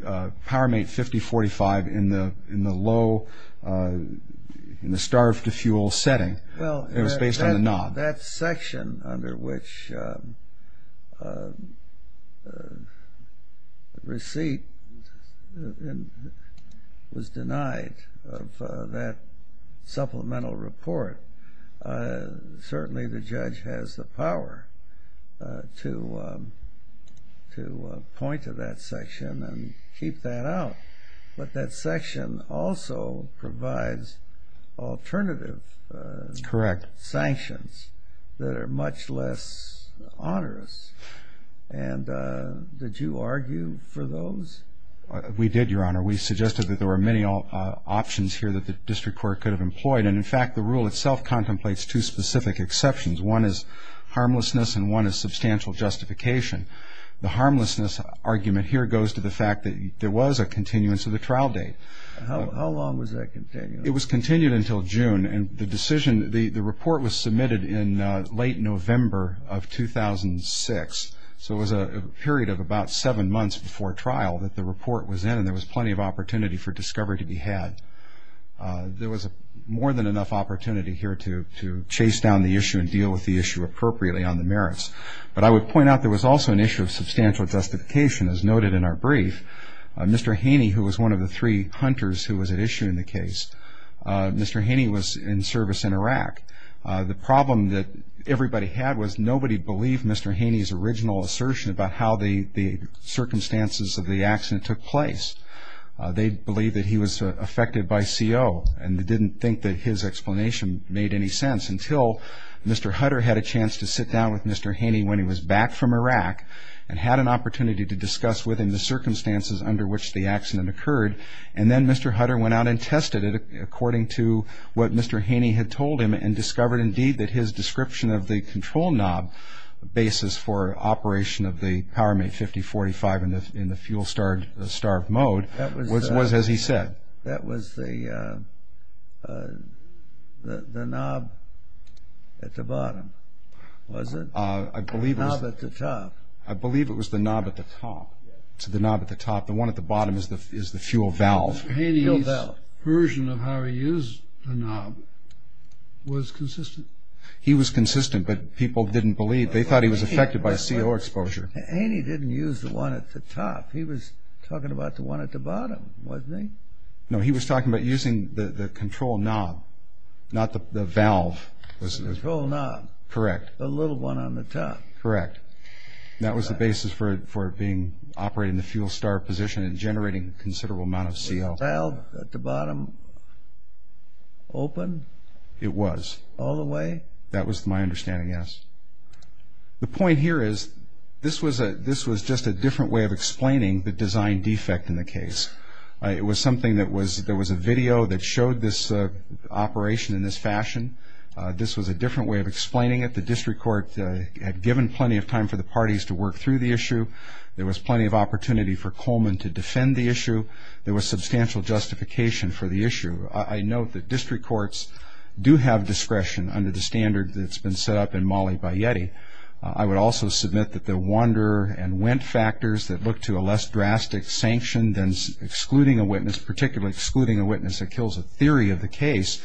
PowerMate 5045 in the low, in the starved-to-fuel setting. It was based on the knob. That section under which receipt was denied of that supplemental report, certainly the judge has the power to point to that section and keep that out, but that section also provides alternative sanctions that are much less onerous, and did you argue for those? We did, Your Honor. We suggested that there were many options here that the district court could have employed, and, in fact, the rule itself contemplates two specific exceptions. One is harmlessness and one is substantial justification. The harmlessness argument here goes to the fact that there was a continuance of the trial date. How long was that continued? It was continued until June, and the decision, the report was submitted in late November of 2006, so it was a period of about seven months before trial that the report was in, and there was plenty of opportunity for discovery to be had. There was more than enough opportunity here to chase down the issue and deal with the issue appropriately on the merits. But I would point out there was also an issue of substantial justification, as noted in our brief. Mr. Haney, who was one of the three hunters who was at issue in the case, Mr. Haney was in service in Iraq. The problem that everybody had was nobody believed Mr. Haney's original assertion about how the circumstances of the accident took place. They believed that he was affected by CO, and they didn't think that his explanation made any sense until Mr. Hutter had a chance to sit down with Mr. Haney when he was back from Iraq and had an opportunity to discuss within the circumstances under which the accident occurred, and then Mr. Hutter went out and tested it according to what Mr. Haney had told him and discovered indeed that his description of the control knob basis for operation of the Power Mate 5045 in the fuel-starved mode was as he said. That was the knob at the bottom, was it? I believe it was the knob at the top. It's the knob at the top. The one at the bottom is the fuel valve. Haney's version of how he used the knob was consistent. He was consistent, but people didn't believe. They thought he was affected by CO exposure. Haney didn't use the one at the top. He was talking about the one at the bottom, wasn't he? No, he was talking about using the control knob, not the valve. The control knob. Correct. The little one on the top. Correct. That was the basis for it being operated in the fuel-starved position and generating a considerable amount of CO. Was the valve at the bottom open? It was. All the way? That was my understanding, yes. The point here is this was just a different way of explaining the design defect in the case. It was something that was a video that showed this operation in this fashion. This was a different way of explaining it. The district court had given plenty of time for the parties to work through the issue. There was plenty of opportunity for Coleman to defend the issue. There was substantial justification for the issue. I note that district courts do have discretion under the standard that's been set up in Mali by Yeti. I would also submit that the wander and went factors that look to a less drastic sanction than excluding a witness, particularly excluding a witness that kills a theory of the case,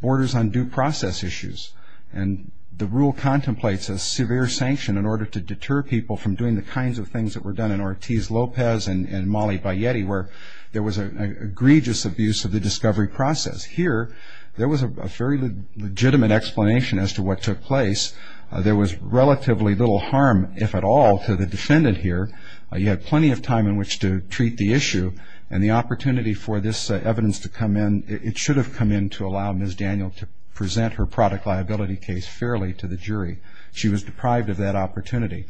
borders on due process issues. And the rule contemplates a severe sanction in order to deter people from doing the kinds of things that were done in Ortiz Lopez and Mali by Yeti where there was an egregious abuse of the discovery process. Here there was a very legitimate explanation as to what took place. There was relatively little harm, if at all, to the defendant here. You had plenty of time in which to treat the issue. And the opportunity for this evidence to come in, it should have come in to allow Ms. Daniel to present her product liability case fairly to the jury. She was deprived of that opportunity.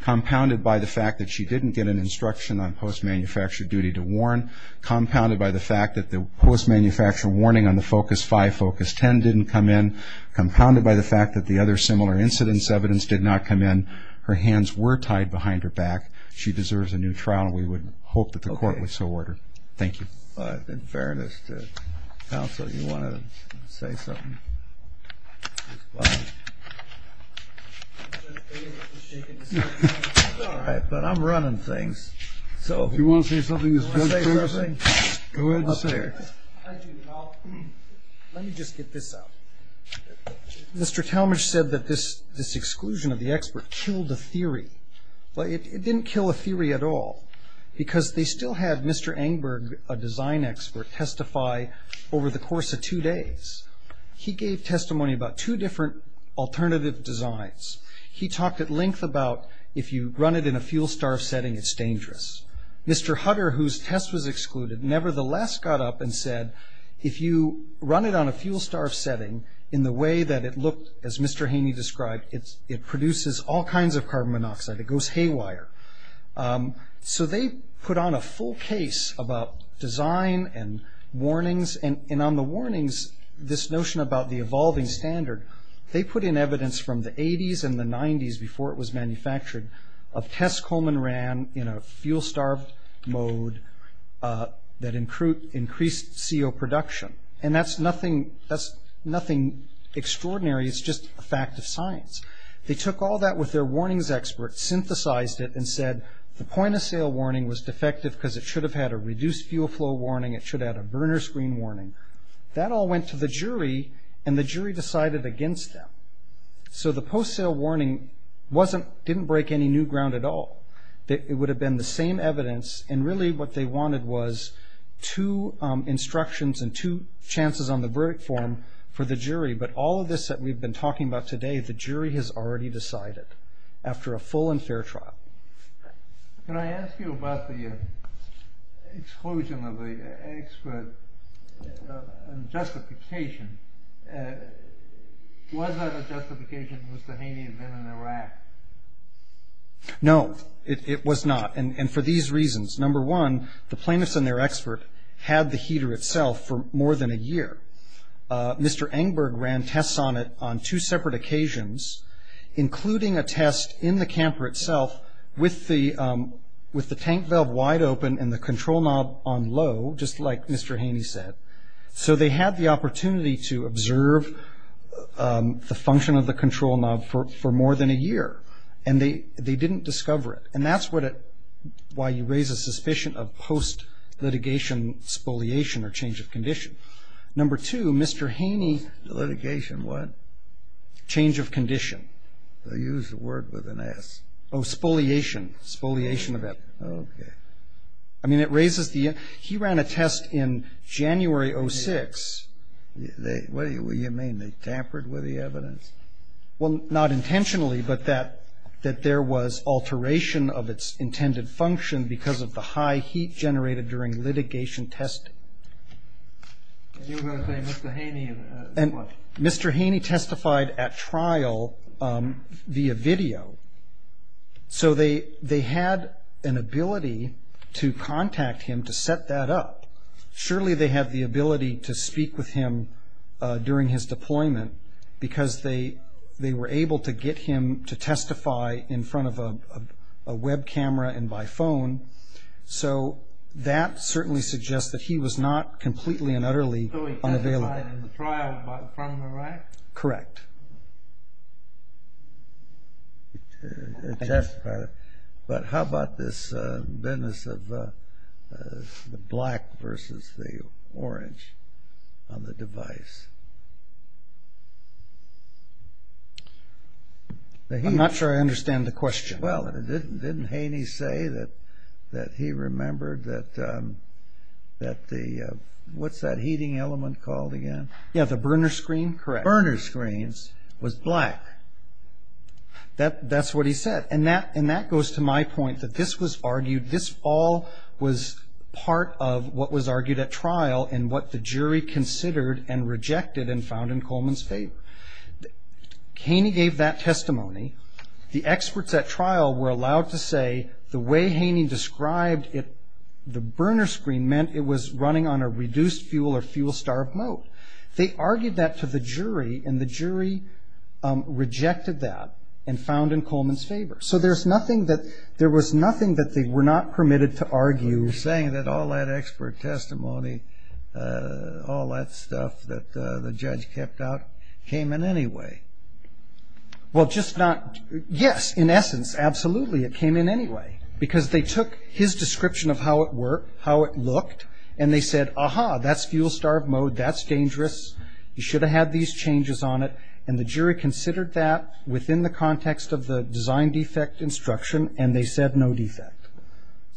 Compounded by the fact that she didn't get an instruction on post-manufacture duty to warn, compounded by the fact that the post-manufacture warning on the FOCUS 5, FOCUS 10 didn't come in, compounded by the fact that the other similar incidence evidence did not come in, her hands were tied behind her back. She deserves a new trial, and we would hope that the court would so order. Thank you. In fairness to counsel, you want to say something? All right, but I'm running things. So if you want to say something, go ahead and say it. Let me just get this out. Mr. Talmadge said that this exclusion of the expert killed the theory. It didn't kill a theory at all, because they still had Mr. Engberg, a design expert, testify over the course of two days. He gave testimony about two different alternative designs. He talked at length about if you run it in a fuel-starved setting, it's dangerous. Mr. Hutter, whose test was excluded, nevertheless got up and said, if you run it on a fuel-starved setting in the way that it looked, as Mr. Haney described, it produces all kinds of carbon monoxide. It goes haywire. So they put on a full case about design and warnings, and on the warnings, this notion about the evolving standard, they put in evidence from the 80s and the 90s, before it was manufactured, of tests Coleman ran in a fuel-starved mode that increased CO production. That's nothing extraordinary. It's just a fact of science. They took all that with their warnings expert, synthesized it, and said the point-of-sale warning was defective because it should have had a reduced fuel flow warning. It should have had a burner screen warning. That all went to the jury, and the jury decided against them. So the post-sale warning didn't break any new ground at all. It would have been the same evidence, and really what they wanted was two instructions and two chances on the verdict form for the jury. But all of this that we've been talking about today, the jury has already decided after a full and fair trial. Can I ask you about the exclusion of the expert and justification? Was that a justification Mr. Haney had been in Iraq? No, it was not. And for these reasons, number one, the plaintiffs and their expert had the heater itself for more than a year. Mr. Engberg ran tests on it on two separate occasions, including a test in the camper itself with the tank valve wide open and the control knob on low, just like Mr. Haney said. So they had the opportunity to observe the function of the control knob for more than a year, and they didn't discover it. And that's why you raise a suspicion of post-litigation spoliation or change of condition. Number two, Mr. Haney's litigation what? Change of condition. They used the word with an S. Oh, spoliation, spoliation of it. Okay. I mean, it raises the – he ran a test in January of 2006. What do you mean? They tampered with the evidence? Well, not intentionally, but that there was alteration of its intended function because of the high heat generated during litigation testing. And you were going to say Mr. Haney and what? Mr. Haney testified at trial via video. So they had an ability to contact him to set that up. Surely they had the ability to speak with him during his deployment because they were able to get him to testify in front of a web camera and by phone. So that certainly suggests that he was not completely and utterly unavailable. So he testified in the trial in front of a rack? Correct. But how about this business of the black versus the orange on the device? I'm not sure I understand the question. Well, didn't Haney say that he remembered that the – what's that heating element called again? Yeah, the burner screen, correct. The burner screen was black. That's what he said. And that goes to my point that this was argued, this all was part of what was argued at trial and what the jury considered and rejected and found in Coleman's favor. Haney gave that testimony. The experts at trial were allowed to say the way Haney described it, the burner screen meant it was running on a reduced fuel or fuel-starved mode. They argued that to the jury, and the jury rejected that and found in Coleman's favor. So there was nothing that they were not permitted to argue. You're saying that all that expert testimony, all that stuff that the judge kept out, came in anyway. Well, just not – yes, in essence, absolutely, it came in anyway because they took his description of how it worked, how it looked, and they said, aha, that's fuel-starved mode. That's dangerous. You should have had these changes on it, and the jury considered that within the context of the design defect instruction, and they said no defect.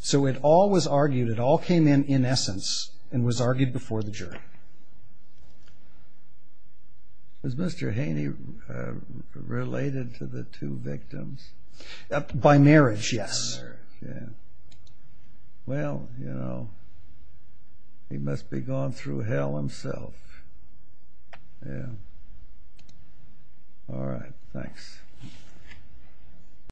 So it all was argued. It all came in, in essence, and was argued before the jury. Was Mr. Haney related to the two victims? By marriage, yes. Yeah. Well, you know, he must be gone through hell himself. Yeah. All right. Thanks.